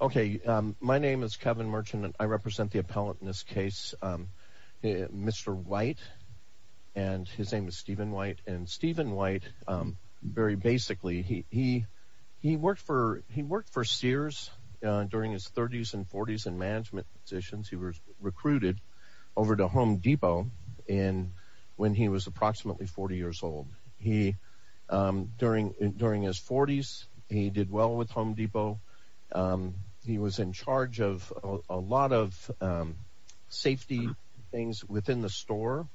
Okay, my name is Kevin Merchant and I represent the appellant in this case, Mr. White and his name is Stephen White. And Stephen White, very basically, he worked for Sears during his 30s and 40s in management positions. He was recruited over to Home Depot when he was approximately 40 years old. During his 40s, he did well with Home Depot. He was in charge of a lot of safety things within the store.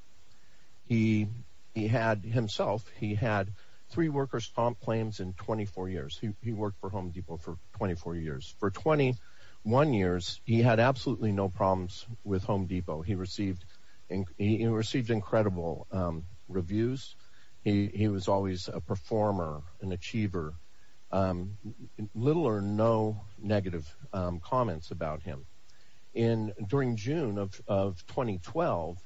He had himself, he had three workers' comp claims in 24 years. He worked for Home Depot for 24 years. For 21 years, he had absolutely no problems with Home Depot reviews. He was always a performer, an achiever. Little or no negative comments about him. During June of 2012,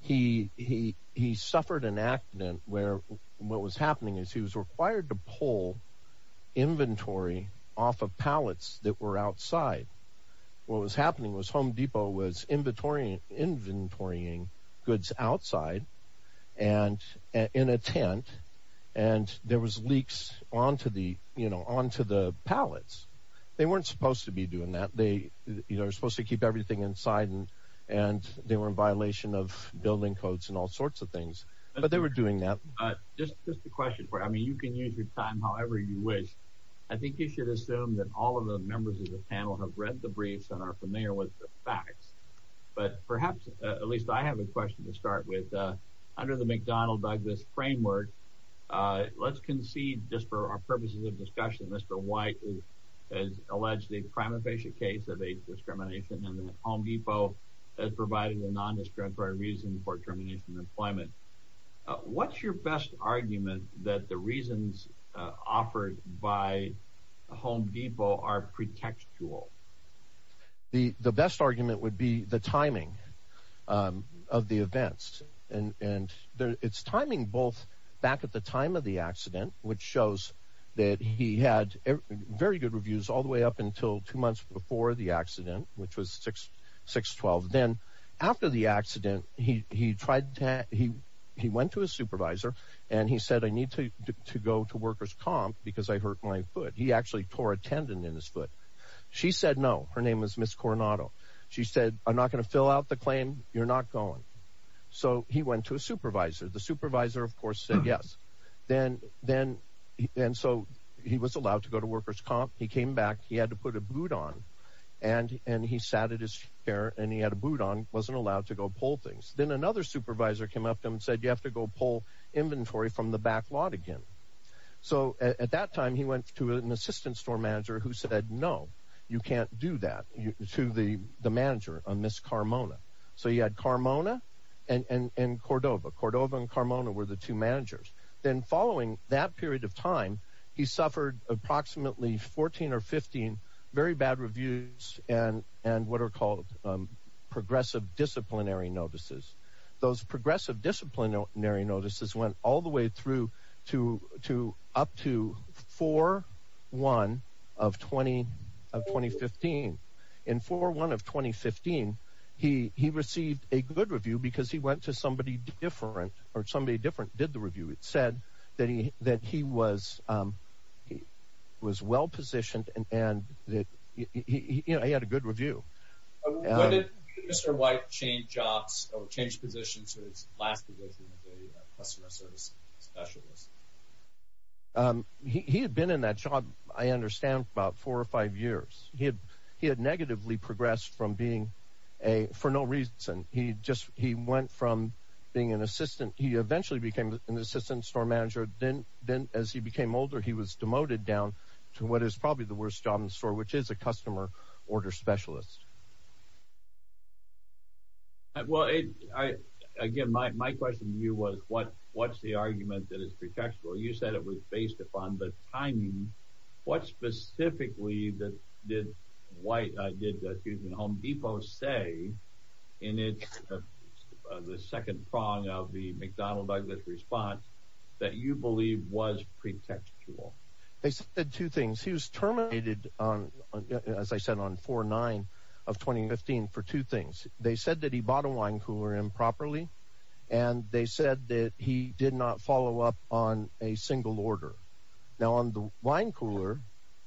he suffered an accident where what was happening is he was required to pull inventory off of pallets that were outside. What was happening was Home Depot was inventorying goods outside and in a tent and there was leaks onto the, you know, onto the pallets. They weren't supposed to be doing that. They, you know, were supposed to keep everything inside and they were in violation of building codes and all sorts of things. But they were doing that. Just the question where, I mean, you can use your time however you wish. I think you should assume that all of the members of the panel have read the briefs and are familiar with the facts. But perhaps, at least I have a question to start with. Under the McDonald-Douglas framework, let's concede just for our purposes of discussion, Mr. White has alleged the crime of patient case of age discrimination and that Home Depot has provided a non-discriminatory reason for termination of employment. What's your best argument that the reasons offered by Home Depot are pretextual? The best argument would be the timing of the events. And it's timing both back at the time of the accident, which shows that he had very good reviews all the way up until two months before the accident, which was 6-12. Then, after the accident, he went to his supervisor and he said, I need to go to workers comp because I hurt my foot. He actually tore a tendon in his foot. She said no. Her name was Ms. Coronado. She said, I'm not going to fill out the claim. You're not going. So he went to a supervisor. The supervisor, of course, said yes. And so he was allowed to go to workers comp. He came back. He had to put a boot on. And he sat at his chair and he had a boot on. He wasn't allowed to go pull things. Then another supervisor came up to him and said, you have to go pull inventory from the back lot again. So at that time, he went to an assistant store manager who said, no, you can't do that to the manager, Ms. Carmona. So he had Carmona and Cordova. Cordova and Carmona were the two managers. Then following that period of time, he suffered approximately 14 or 15 very bad reviews and what are called progressive disciplinary notices. Those progressive In 4-1 of 2015, he received a good review because he went to somebody different or somebody different did the review. It said that he was well positioned and that he had a good review. When did Mr. White change jobs or change positions to his last position as a customer service specialist? He had been in that job, I understand, for about four or five years. He had negatively progressed from being a for no reason. He just he went from being an assistant. He eventually became an assistant store manager. Then as he became older, he was demoted down to what is probably the worst job in the store, which is a customer order specialist. Well, again, my question to you was, what's the argument that is pretextual? You said it was based upon the timing. What specifically did White, did the Houston Home Depot say in the second prong of the McDonnell Douglas response that you believe was pretextual? They said two things. He was terminated on, as I said, on 4-9 of 2015 for two things. They said that he bought a wine cooler improperly and they said that he did not follow up on a single order. Now on the wine cooler,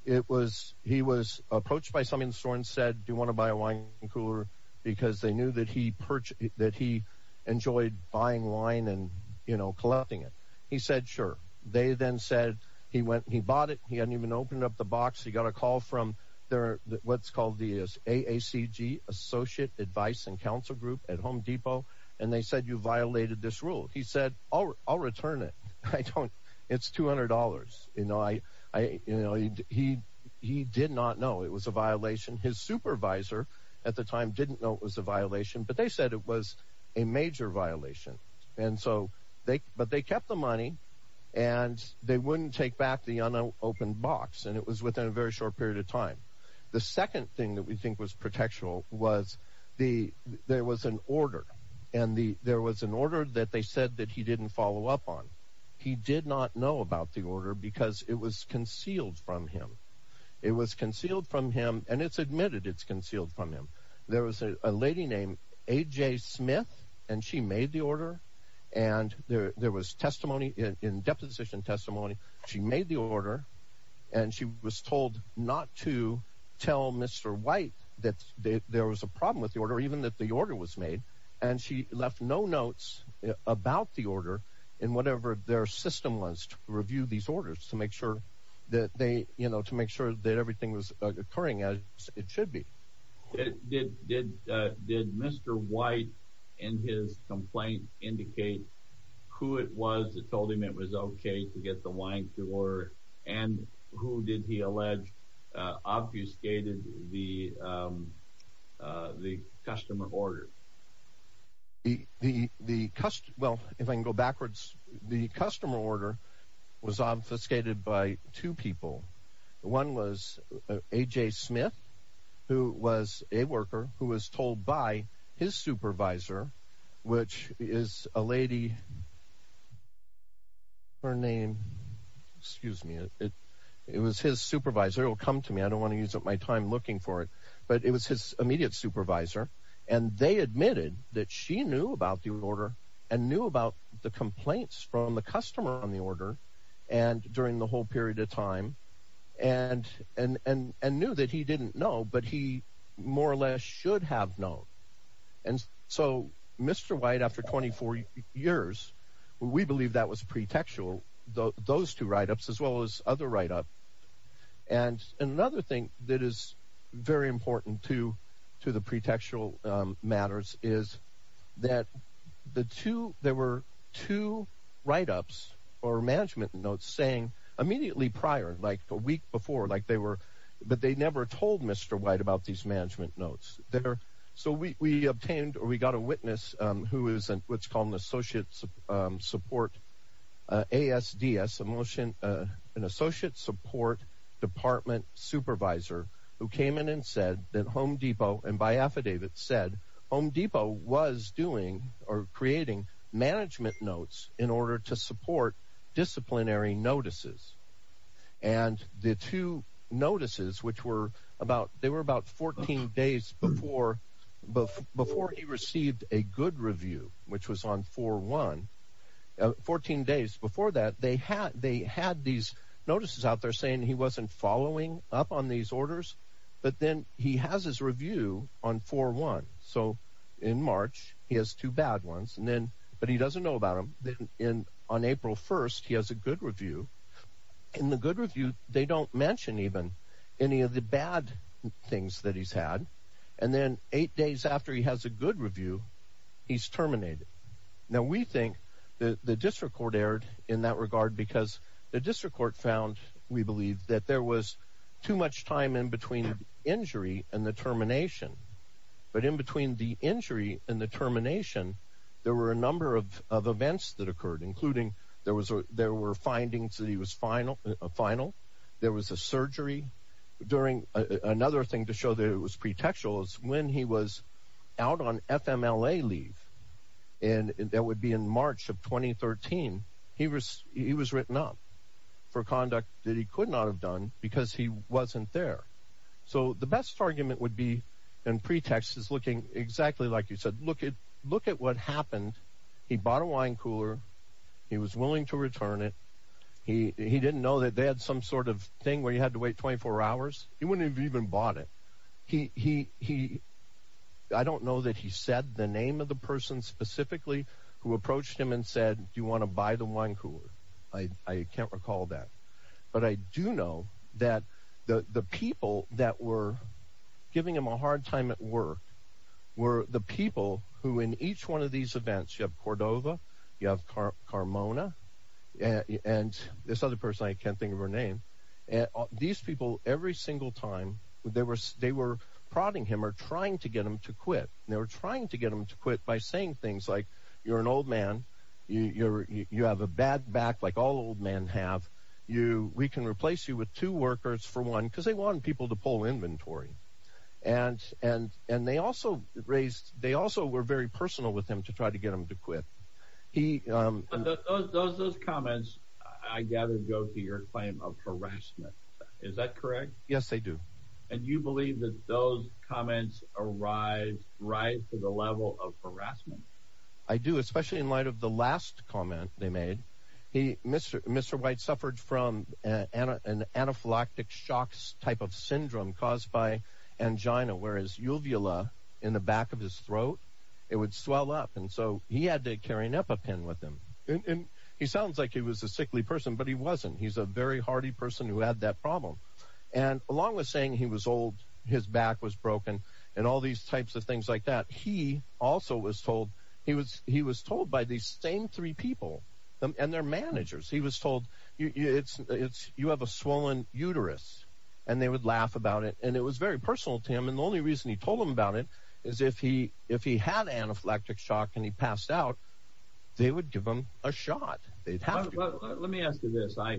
it was he was approached by some in the store and said, do you want to buy a wine cooler? Because they knew that he purchased that he enjoyed buying wine and, you know, collecting it. He said, sure. They then said he went, he bought it. He hadn't even opened up the box. He got a call from their what's called the AACG, Associate Advice and Counsel Group at Home Depot. And they said, you violated this rule. He said, oh, I'll return it. I don't. It's two hundred dollars. You know, I you know, he he did not know it was a violation. His supervisor at the time didn't know it was a violation, but they said it was a major violation. And so they but they kept the money and they wouldn't take back the unopened box. And it was within a very short period of time. The second thing that we think was protection was the there was an order and the there was an order that they said that he didn't follow up on. He did not know about the order because it was concealed from him. It was concealed from him. And it's admitted it's concealed from him. There was a lady named A.J. Smith and she made the order. And there was testimony in deposition testimony. She made the order and she was told not to tell Mr. White that there was a problem with the order, even that the order was made. And she left no notes about the order in whatever their system was to review these orders to make sure that they, you know, to make sure that everything was occurring as it should be. Did did did Mr. White and his complaint indicate who it was that told him it was OK to get the wine to order? And who did he allege obfuscated the the customer order? The the the well, if I can go backwards, the customer order was obfuscated by two people. One was A.J. Smith, who was a worker who was told by his supervisor, which is a lady. Her name, excuse me, it it was his supervisor will come to me. I don't want to use up my time looking for it, but it was his immediate supervisor. And they admitted that she knew about the order and knew about the complaints from the customer on the order. And during the whole period of time and and and and knew that he didn't know, but he more or less should have known. And so, Mr. White, after twenty four years, we believe that was pretextual. Those two write ups, as well as other write up. And another thing that is very important to to the pretextual matters is that the two there were two write ups or management notes saying immediately prior, like a week before, like they were, but they never told Mr. White about these management notes there. So we obtained or we got a witness who is what's called an associate support ASDS emotion, an associate support department supervisor who came in and said that Home Depot and by affidavit said Home Depot was doing or creating management notes in order to support disciplinary notices. And the two notices, which were about they were about 14 days before, but before he received a good review, which was on for one, 14 days before that, they had they had these notices out there saying he wasn't following up on these orders. But then he has his review on for one. So in March, he has two bad ones. And then but he doesn't know about him in on April 1st. He has a good review in the good review. They don't mention even any of the bad things that he's had. And then eight days after he has a good review, he's terminated. Now, we think the district court erred in that regard because the district court found, we believe, that there was too much time in between the injury and the termination. But in between the injury and the termination, there were a number of events that occurred, including there was there were findings that he was final final. There was a surgery during another thing to show that it was pretextual is when he was out on FMLA leave. And that would be in March of 2013. He was he was written up for conduct that he could not have done because he wasn't there. So the best argument would be in pretext is looking exactly like you said, look at look at what happened. He bought a wine cooler. He was willing to return it. He didn't know that they had some sort of thing where you had to wait 24 hours. He wouldn't have even bought it. He he he I don't know that he said the name of the person specifically who approached him and said, do you want to buy the wine cooler? I can't recall that. But I do know that the people that were giving him a hard time at work were the people who in each one of these events, you have Cordova, you have Carmona and this other person, I can't think of her name. And these people every single time they were they were prodding him or trying to get him to quit. They were trying to get him to quit by saying things like you're an old man, you're you have a bad back like all old men have you. We can replace you with two workers for one because they want people to pull inventory. And and and they also raised they also were very personal with him to try to get him to quit. He does those comments, I gather, go to your claim of harassment. Is that correct? Yes, they do. And you believe that those comments arrived right to the level of harassment? I do, especially in light of the last comment they made. He Mr. Mr. White suffered from an anaphylactic shocks type of syndrome caused by angina, whereas uvula in the back of his throat, it would swell up. And so he had to carrying up a pen with him. And he sounds like he was a sickly person, but he wasn't. He's a very hardy person who had that problem. And along with saying he was old, his back was broken and all these types of things like that. He also was told he was he was told by the same three people and their managers. He was told it's it's you have a swollen uterus and they would laugh about it. And it was very personal to him. And the only reason he told him about it is if he if he had anaphylactic shock and he passed out, they would give him a shot. They'd have to. Let me ask you this. I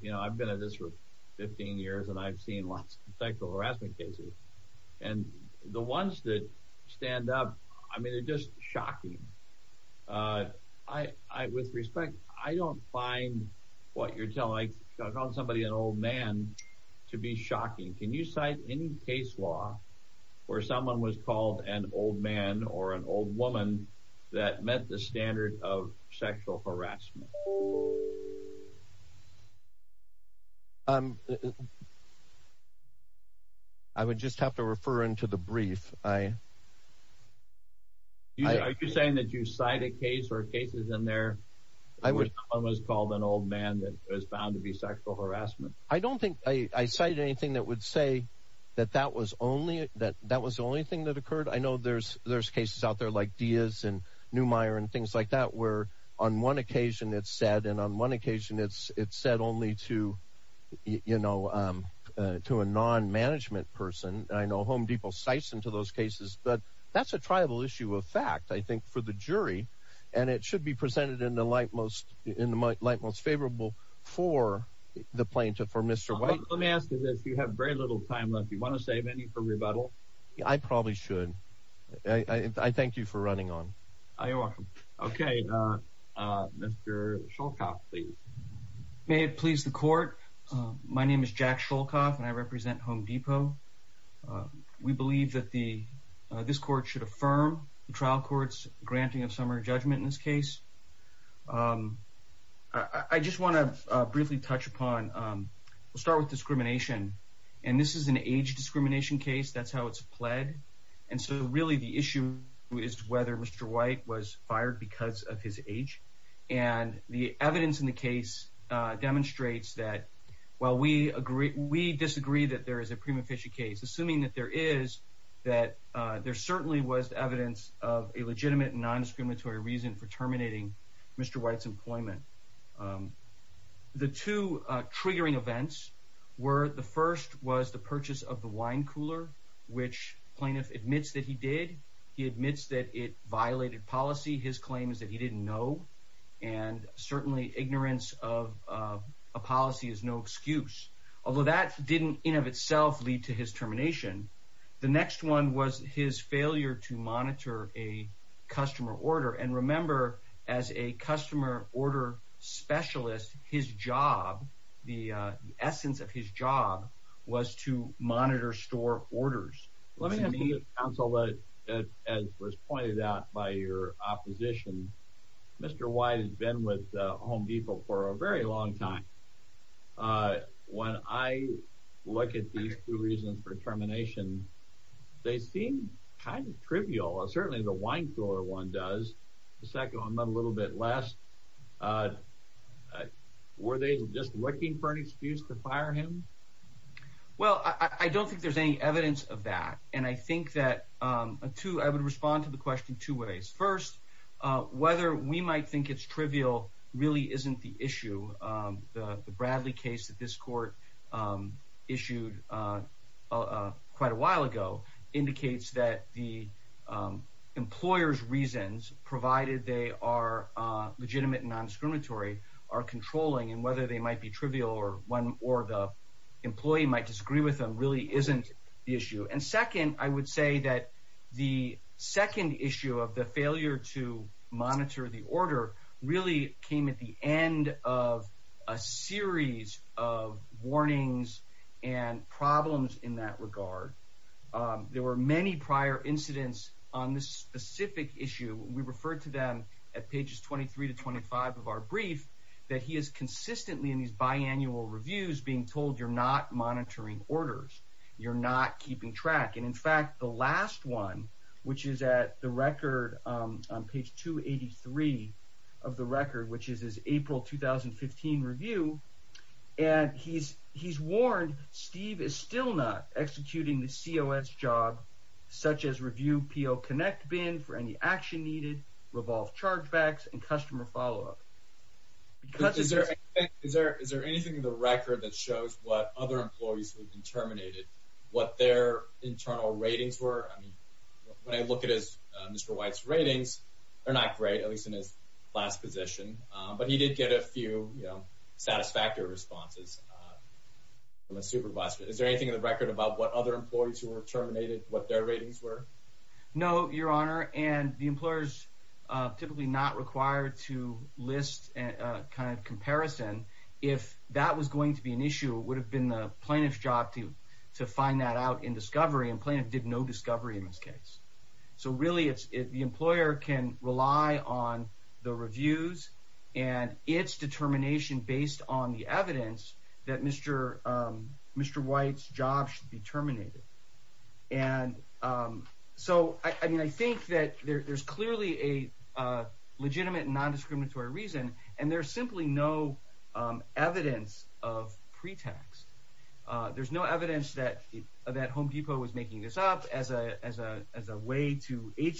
you know, I've been at this for 15 years and I've seen lots of technical harassment cases and the ones that stand up. I mean, it's just shocking. I I with respect, I don't find what you're telling somebody an old man to be shocking. Can you cite any case law where someone was called an old man or an old woman that met the standard of sexual harassment? Oh. I'm. I would just have to refer into the brief, I. Are you saying that you cite a case or cases in there? I was almost called an old man that was found to be sexual harassment. I don't think I cited anything that would say that that was only that that was the only thing that occurred. I know there's there's cases out there like Diaz and Neumeier and things like that where on one occasion it's said and on one occasion it's it's said only to, you know, to a non-management person. I know Home Depot cites into those cases, but that's a tribal issue of fact, I think, for the jury. And it should be presented in the light most in the light most favorable for the plaintiff, for Mr. White. Let me ask you this. You have very little time left. You want to save any for rebuttal? I probably should. I thank you for running on. You're Mr. Shulkoff, please. May it please the court. My name is Jack Shulkoff and I represent Home Depot. We believe that the this court should affirm the trial court's granting of summary judgment in this case. I just want to briefly touch upon, we'll start with discrimination. And this is an age discrimination case. That's how it's pled. And so really the issue is whether Mr. White was age. And the evidence in the case demonstrates that while we agree, we disagree that there is a prima facie case, assuming that there is, that there certainly was evidence of a legitimate non-discriminatory reason for terminating Mr. White's employment. The two triggering events were the first was the purchase of the wine cooler, which plaintiff admits that he did. He admits that it violated policy. His claim is that he didn't know. And certainly ignorance of a policy is no excuse. Although that didn't in of itself lead to his termination. The next one was his failure to monitor a customer order. And remember, as a customer order specialist, his job, the essence of his job was to monitor store orders. Let me, as was pointed out by your opposition, Mr. White has been with Home Depot for a very long time. When I look at these two reasons for termination, they seem kind of trivial. Certainly the wine cooler one does. The second one a little bit less. Were they just looking for an excuse to fire him? Well, I don't think there's any evidence of that. And I think that, too, I would respond to the question two ways. First, whether we might think it's trivial really isn't the issue. The Bradley case that this court issued quite a while ago indicates that the employer's reasons, provided they are legitimate and non-discriminatory, are controlling. And whether they might be trivial or the employee might disagree with them really isn't the issue. And second, I would say that the second issue of the failure to monitor the order really came at the end of a series of warnings and problems in that regard. There were many prior incidents on this specific issue. We referred to them at pages 23 to 25 of our brief that he is consistently in these biannual reviews being told you're not monitoring orders. You're not keeping track. And in fact, the last one, which is at the record on page 283 of the record, which is his April 2015 review, and he's warned Steve is still not executing the COS job, such as review PO Connect bin for any action needed, revolve chargebacks, and customer follow-up. Is there anything in the record that shows what other employees who've been terminated, what their internal ratings were? I mean, when I look at Mr. White's ratings, they're not great, at least in his last position. But he did get a few, you know, satisfactory responses from a supervisor. Is there anything in the record about what other employees who were terminated, what their ratings were? No, Your Honor, and the employer's typically not required to list a kind of comparison. If that was going to be an issue, it would have been the plaintiff's job to find that out in discovery, and plaintiff did no discovery in this case. So really, the employer can rely on the reviews and its determination based on the evidence that Mr. White's job should be terminated. And so, I mean, I think that there's clearly a legitimate non-discriminatory reason, and there's simply no evidence of pretext. There's no evidence that Home Depot was making this up as a way to under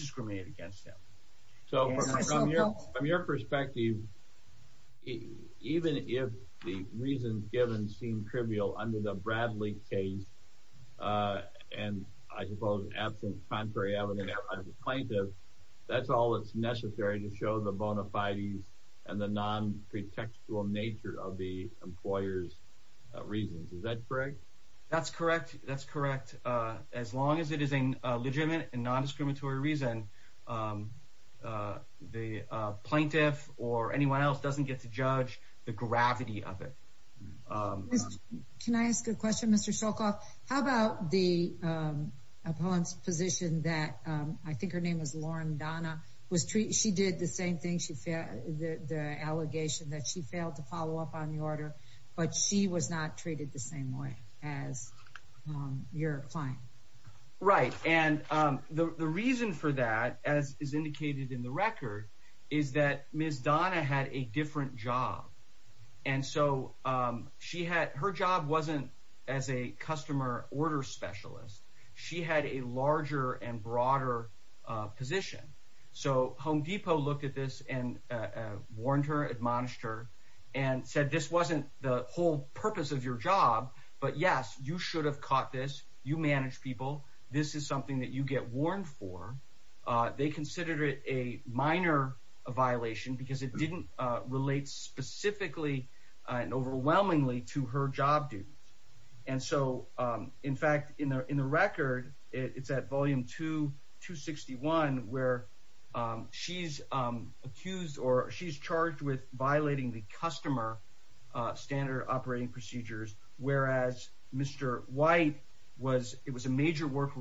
the Bradley case, and I suppose absent contrary evidence as a plaintiff, that's all that's necessary to show the bona fides and the non-pretextual nature of the employer's reasons. Is that correct? That's correct. That's correct. As long as it is a legitimate and non-discriminatory reason, the plaintiff or anyone else doesn't get to judge the gravity of it. Can I ask a question, Mr. Shulkoff? How about the opponent's position that, I think her name was Lauren Donna, she did the same thing, the allegation that she failed to follow up on the order, but she was not treated the same way as your client. Right, and the reason for that, as is indicated in the record, is that Ms. Donna had a different job, and so her job wasn't as a customer order specialist. She had a larger and broader position. So Home Depot looked at this and warned her, admonished her, and said this wasn't the whole purpose of your job, but yes, you should have caught this. You manage people. This is something that you get warned for. They considered it a minor violation because it didn't relate specifically and overwhelmingly to her job duties. And so, in fact, in the record, it's at volume 261, where she's accused or she's charged with it was a major work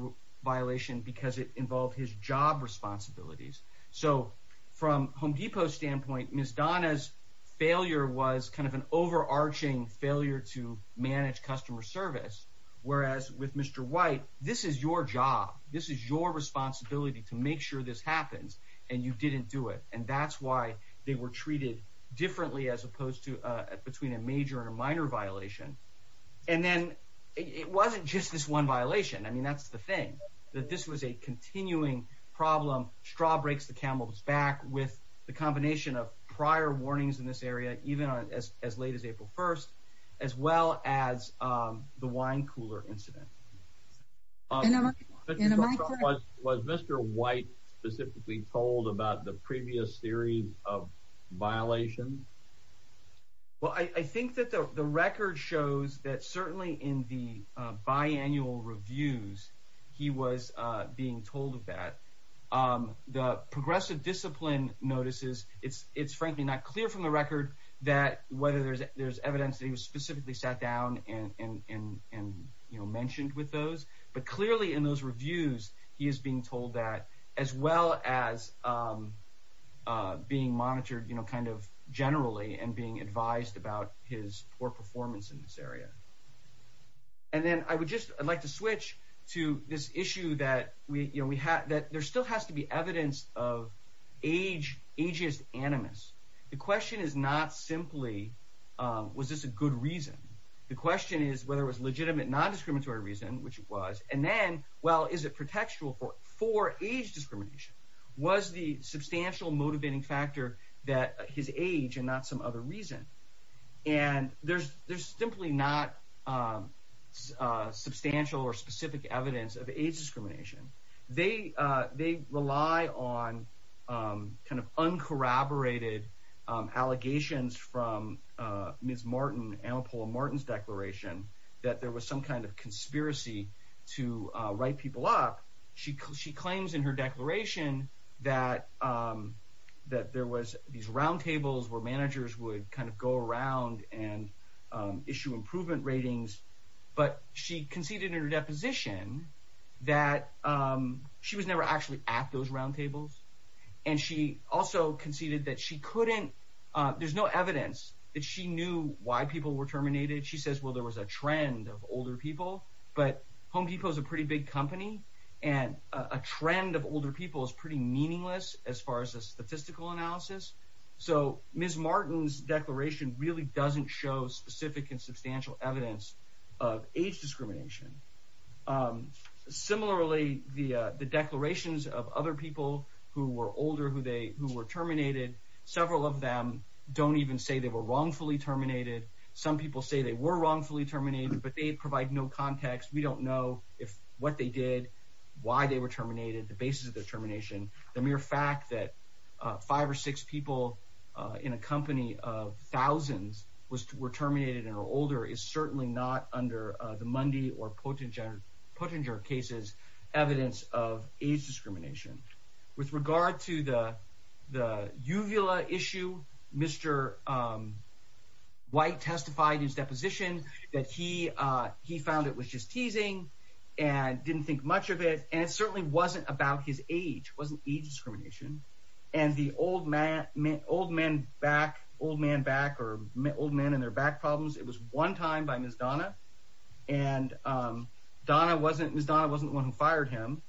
violation because it involved his job responsibilities. So from Home Depot's standpoint, Ms. Donna's failure was kind of an overarching failure to manage customer service, whereas with Mr. White, this is your job. This is your responsibility to make sure this happens, and you didn't do it. And that's why they were treated differently as I mean, that's the thing, that this was a continuing problem. Straw breaks the camel's back with the combination of prior warnings in this area, even as late as April 1st, as well as the wine cooler incident. Was Mr. White specifically told about the previous series of violations? Well, I think that the record shows that certainly in the biannual reviews, he was being told of that. The progressive discipline notices, it's frankly not clear from the record that whether there's evidence that he was specifically sat down and mentioned with those, but clearly in those reviews, he is being told that as well as being monitored, kind of generally and being advised about his poor performance in this area. And then I would just, I'd like to switch to this issue that there still has to be evidence of ageist animus. The question is not simply, was this a good reason? The question is whether it was legitimate non-discriminatory reason, which it was, and then, well, is it protectual for age discrimination? Was the substantial motivating factor that his age and not some other reason? And there's simply not substantial or specific evidence of age discrimination. They rely on kind of uncorroborated allegations from Ms. Martin, Annapola Martin's declaration, that there was some kind of conspiracy to write people up. She claims in her declaration that there was these roundtables where managers would kind of go around and issue improvement ratings, but she conceded in her deposition that she was never actually at those roundtables. And she also conceded that she couldn't, there's no evidence that she knew why people were at those roundtables. There's a trend of older people, but Home Depot is a pretty big company, and a trend of older people is pretty meaningless as far as a statistical analysis. So Ms. Martin's declaration really doesn't show specific and substantial evidence of age discrimination. Similarly, the declarations of other people who were older, who were terminated, several of them don't even say they were wrongfully terminated. Some people say they were wrongfully terminated, but they provide no context. We don't know what they did, why they were terminated, the basis of their termination. The mere fact that five or six people in a company of thousands were terminated and are older is certainly not under the Mundy or Pottinger cases evidence of age discrimination. With regard to the Uvila issue, Mr. White testified in his position that he found it was just teasing, and didn't think much of it, and it certainly wasn't about his age. It wasn't age discrimination. And the old man back, or old men and their back problems, it was one time by Ms. Donna, and Ms. Donna wasn't the one who fired him.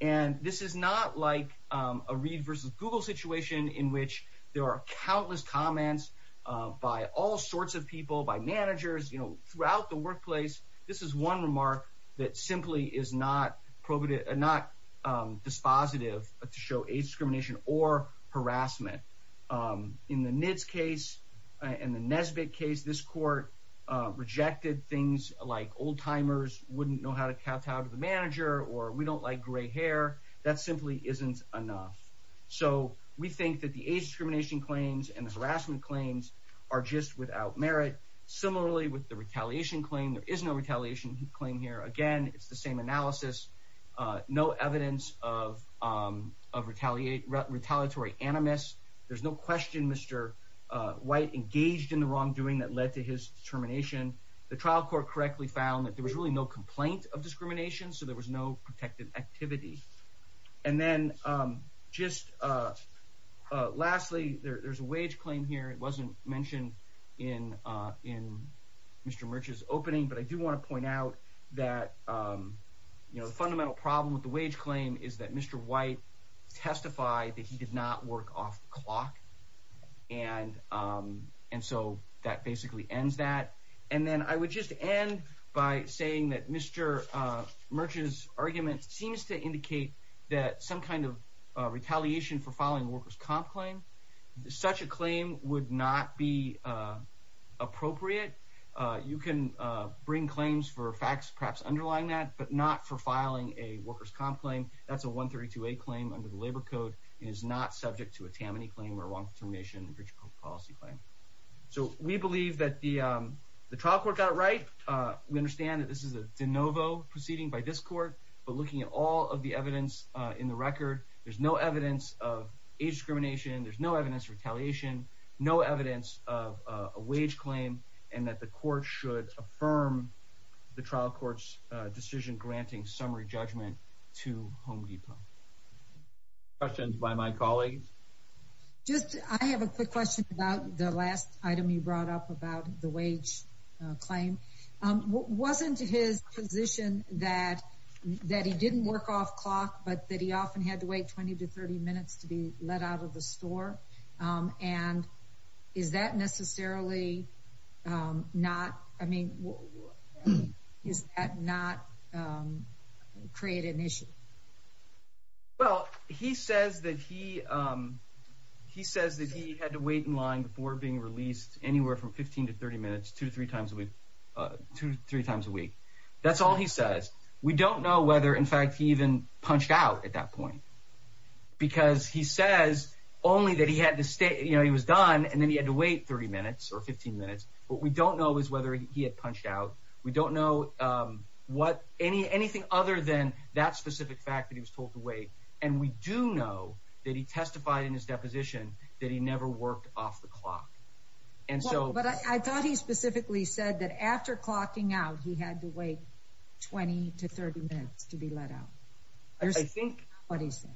And this is not like a Reed versus Google situation in which there are countless comments by all sorts of people, by managers, you know, throughout the workplace. This is one remark that simply is not dispositive to show age discrimination or harassment. In the NITS case and the Nesbitt case, this court rejected things like old-timers wouldn't know how to kowtow to the manager, or we don't like gray hair. That simply isn't enough. So we think that the age discrimination claims and the harassment claims are just without merit. Similarly, with the retaliation claim, there is no retaliation claim here. Again, it's the same analysis. No evidence of retaliatory animus. There's no question Mr. White engaged in the wrongdoing that led to his determination. The trial court correctly found that there was really no complaint of discrimination, so there was no protective activity. And then just lastly, there's a wage claim here. It wasn't mentioned in Mr. Murch's opening, but I do want to point out that, you know, the fundamental problem with the wage claim is that Mr. White testified that he did not work off the clock. And so that basically ends that. And then I would just end by saying that Mr. Murch's argument seems to indicate that some kind of retaliation for filing a workers' comp claim, such a claim would not be appropriate. You can bring claims for facts perhaps underlying that, but not for filing a workers' comp claim. That's a 132a claim under the labor code. It is not subject to a Tammany claim or a wrongful termination in the bridge policy claim. So we believe that the trial court got it right. We understand that this is a de novo proceeding by this court, but looking at all of the evidence in the record, there's no evidence of age discrimination, there's no evidence of retaliation, no evidence of a wage claim, and that the court should affirm the trial court's decision granting summary judgment to Home Depot. Any questions by my colleagues? Just, I have a quick question about the last item you brought up about the wage claim. Wasn't his position that he didn't work off clock, but that he often had to wait 20 to 30 minutes to be let out of the store? And is that necessarily not, I mean, is that not create an issue? Well, he says that he had to wait in line before being released anywhere from 15 to 30 minutes, two to three times a week. That's all he says. We don't know whether, in fact, he even punched out at that point, because he says only that he was done and then he had to wait 30 minutes or 15 minutes. What we don't know is whether he had punched out. We don't know anything other than that specific fact that he was told to wait. And we do know that he testified in his deposition that he never worked off the clock. And so, but I thought he specifically said that after clocking out, he had to wait 20 to 30 minutes to be let out. I think what he said.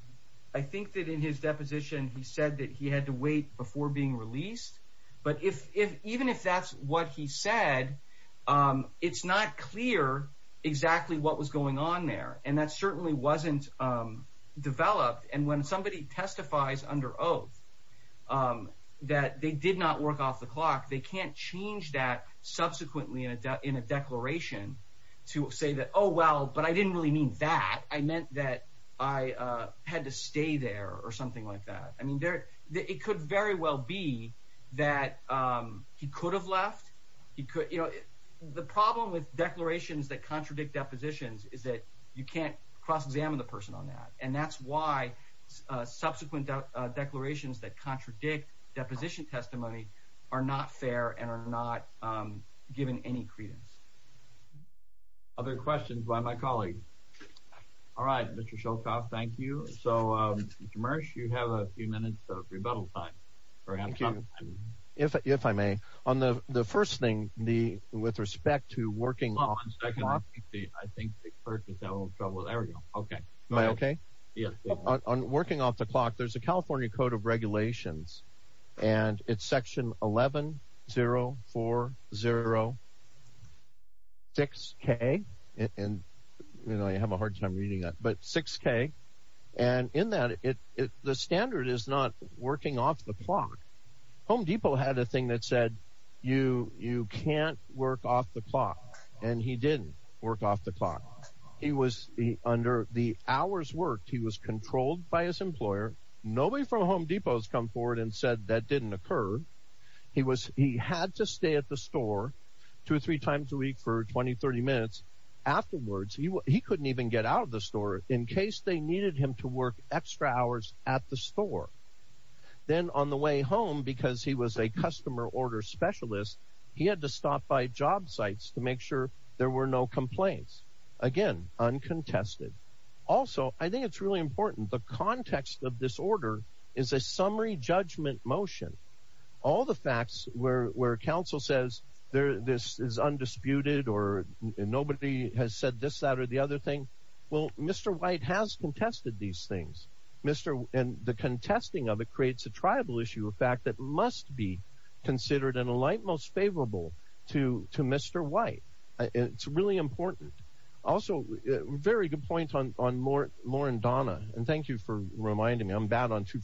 I think that in his deposition, he said that he had to wait before being released. But if even if that's what he said, it's not clear exactly what was going on there. And that certainly wasn't developed. And when somebody testifies under oath that they did not work off the clock, they can't change that subsequently in a declaration to say that, oh, well, but I didn't really mean that. I meant that I had to stay there or something like that. I mean, it could very well be that he could have left. The problem with declarations that contradict depositions is that you can't cross-examine the person on that. And that's why subsequent declarations that contradict deposition testimony are not fair and are not given any credence. Other questions by my colleagues? All right, Mr. Sholkoff, thank you. So, Mr. Marsh, you have a few minutes of rebuttal time. If I may, on the first thing, with respect to working off the clock. I think the person's having trouble. There we go. Okay. Am I okay? Yes. On working off the clock, there's a California Code of Regulations, and it's section 11-040-6K. And, you know, but 6K. And in that, the standard is not working off the clock. Home Depot had a thing that said, you can't work off the clock. And he didn't work off the clock. He was, under the hours worked, he was controlled by his employer. Nobody from Home Depot has come forward and said that didn't occur. He had to stay at the store two or three times a week for 20, 30 minutes. Afterwards, he couldn't even get out of the store in case they needed him to work extra hours at the store. Then, on the way home, because he was a customer order specialist, he had to stop by job sites to make sure there were no complaints. Again, uncontested. Also, I think it's really important, the context of this order is a summary judgment motion. All the facts where counsel says this is undisputed or nobody has said this, that, or the other thing, well, Mr. White has contested these things. And the contesting of it creates a tribal issue, a fact that must be considered and a light most favorable to Mr. White. It's really important. Also, very good point on Moore and Donna. And thank you for reminding me. I'm bad as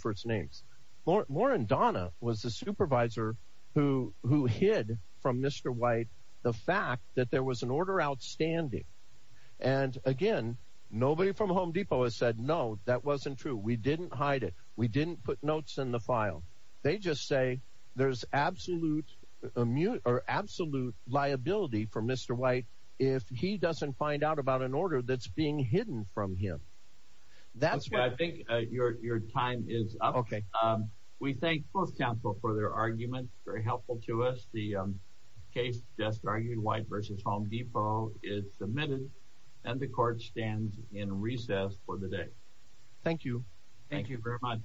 a supervisor who hid from Mr. White the fact that there was an order outstanding. And again, nobody from Home Depot has said, no, that wasn't true. We didn't hide it. We didn't put notes in the file. They just say there's absolute liability for Mr. White if he doesn't find out about an order that's being hidden from him. That's right. I think your time is up. Okay. We thank both counsel for their arguments. Very helpful to us. The case just argued, White v. Home Depot, is submitted and the court stands in recess for the day. Thank you. Thank you very much.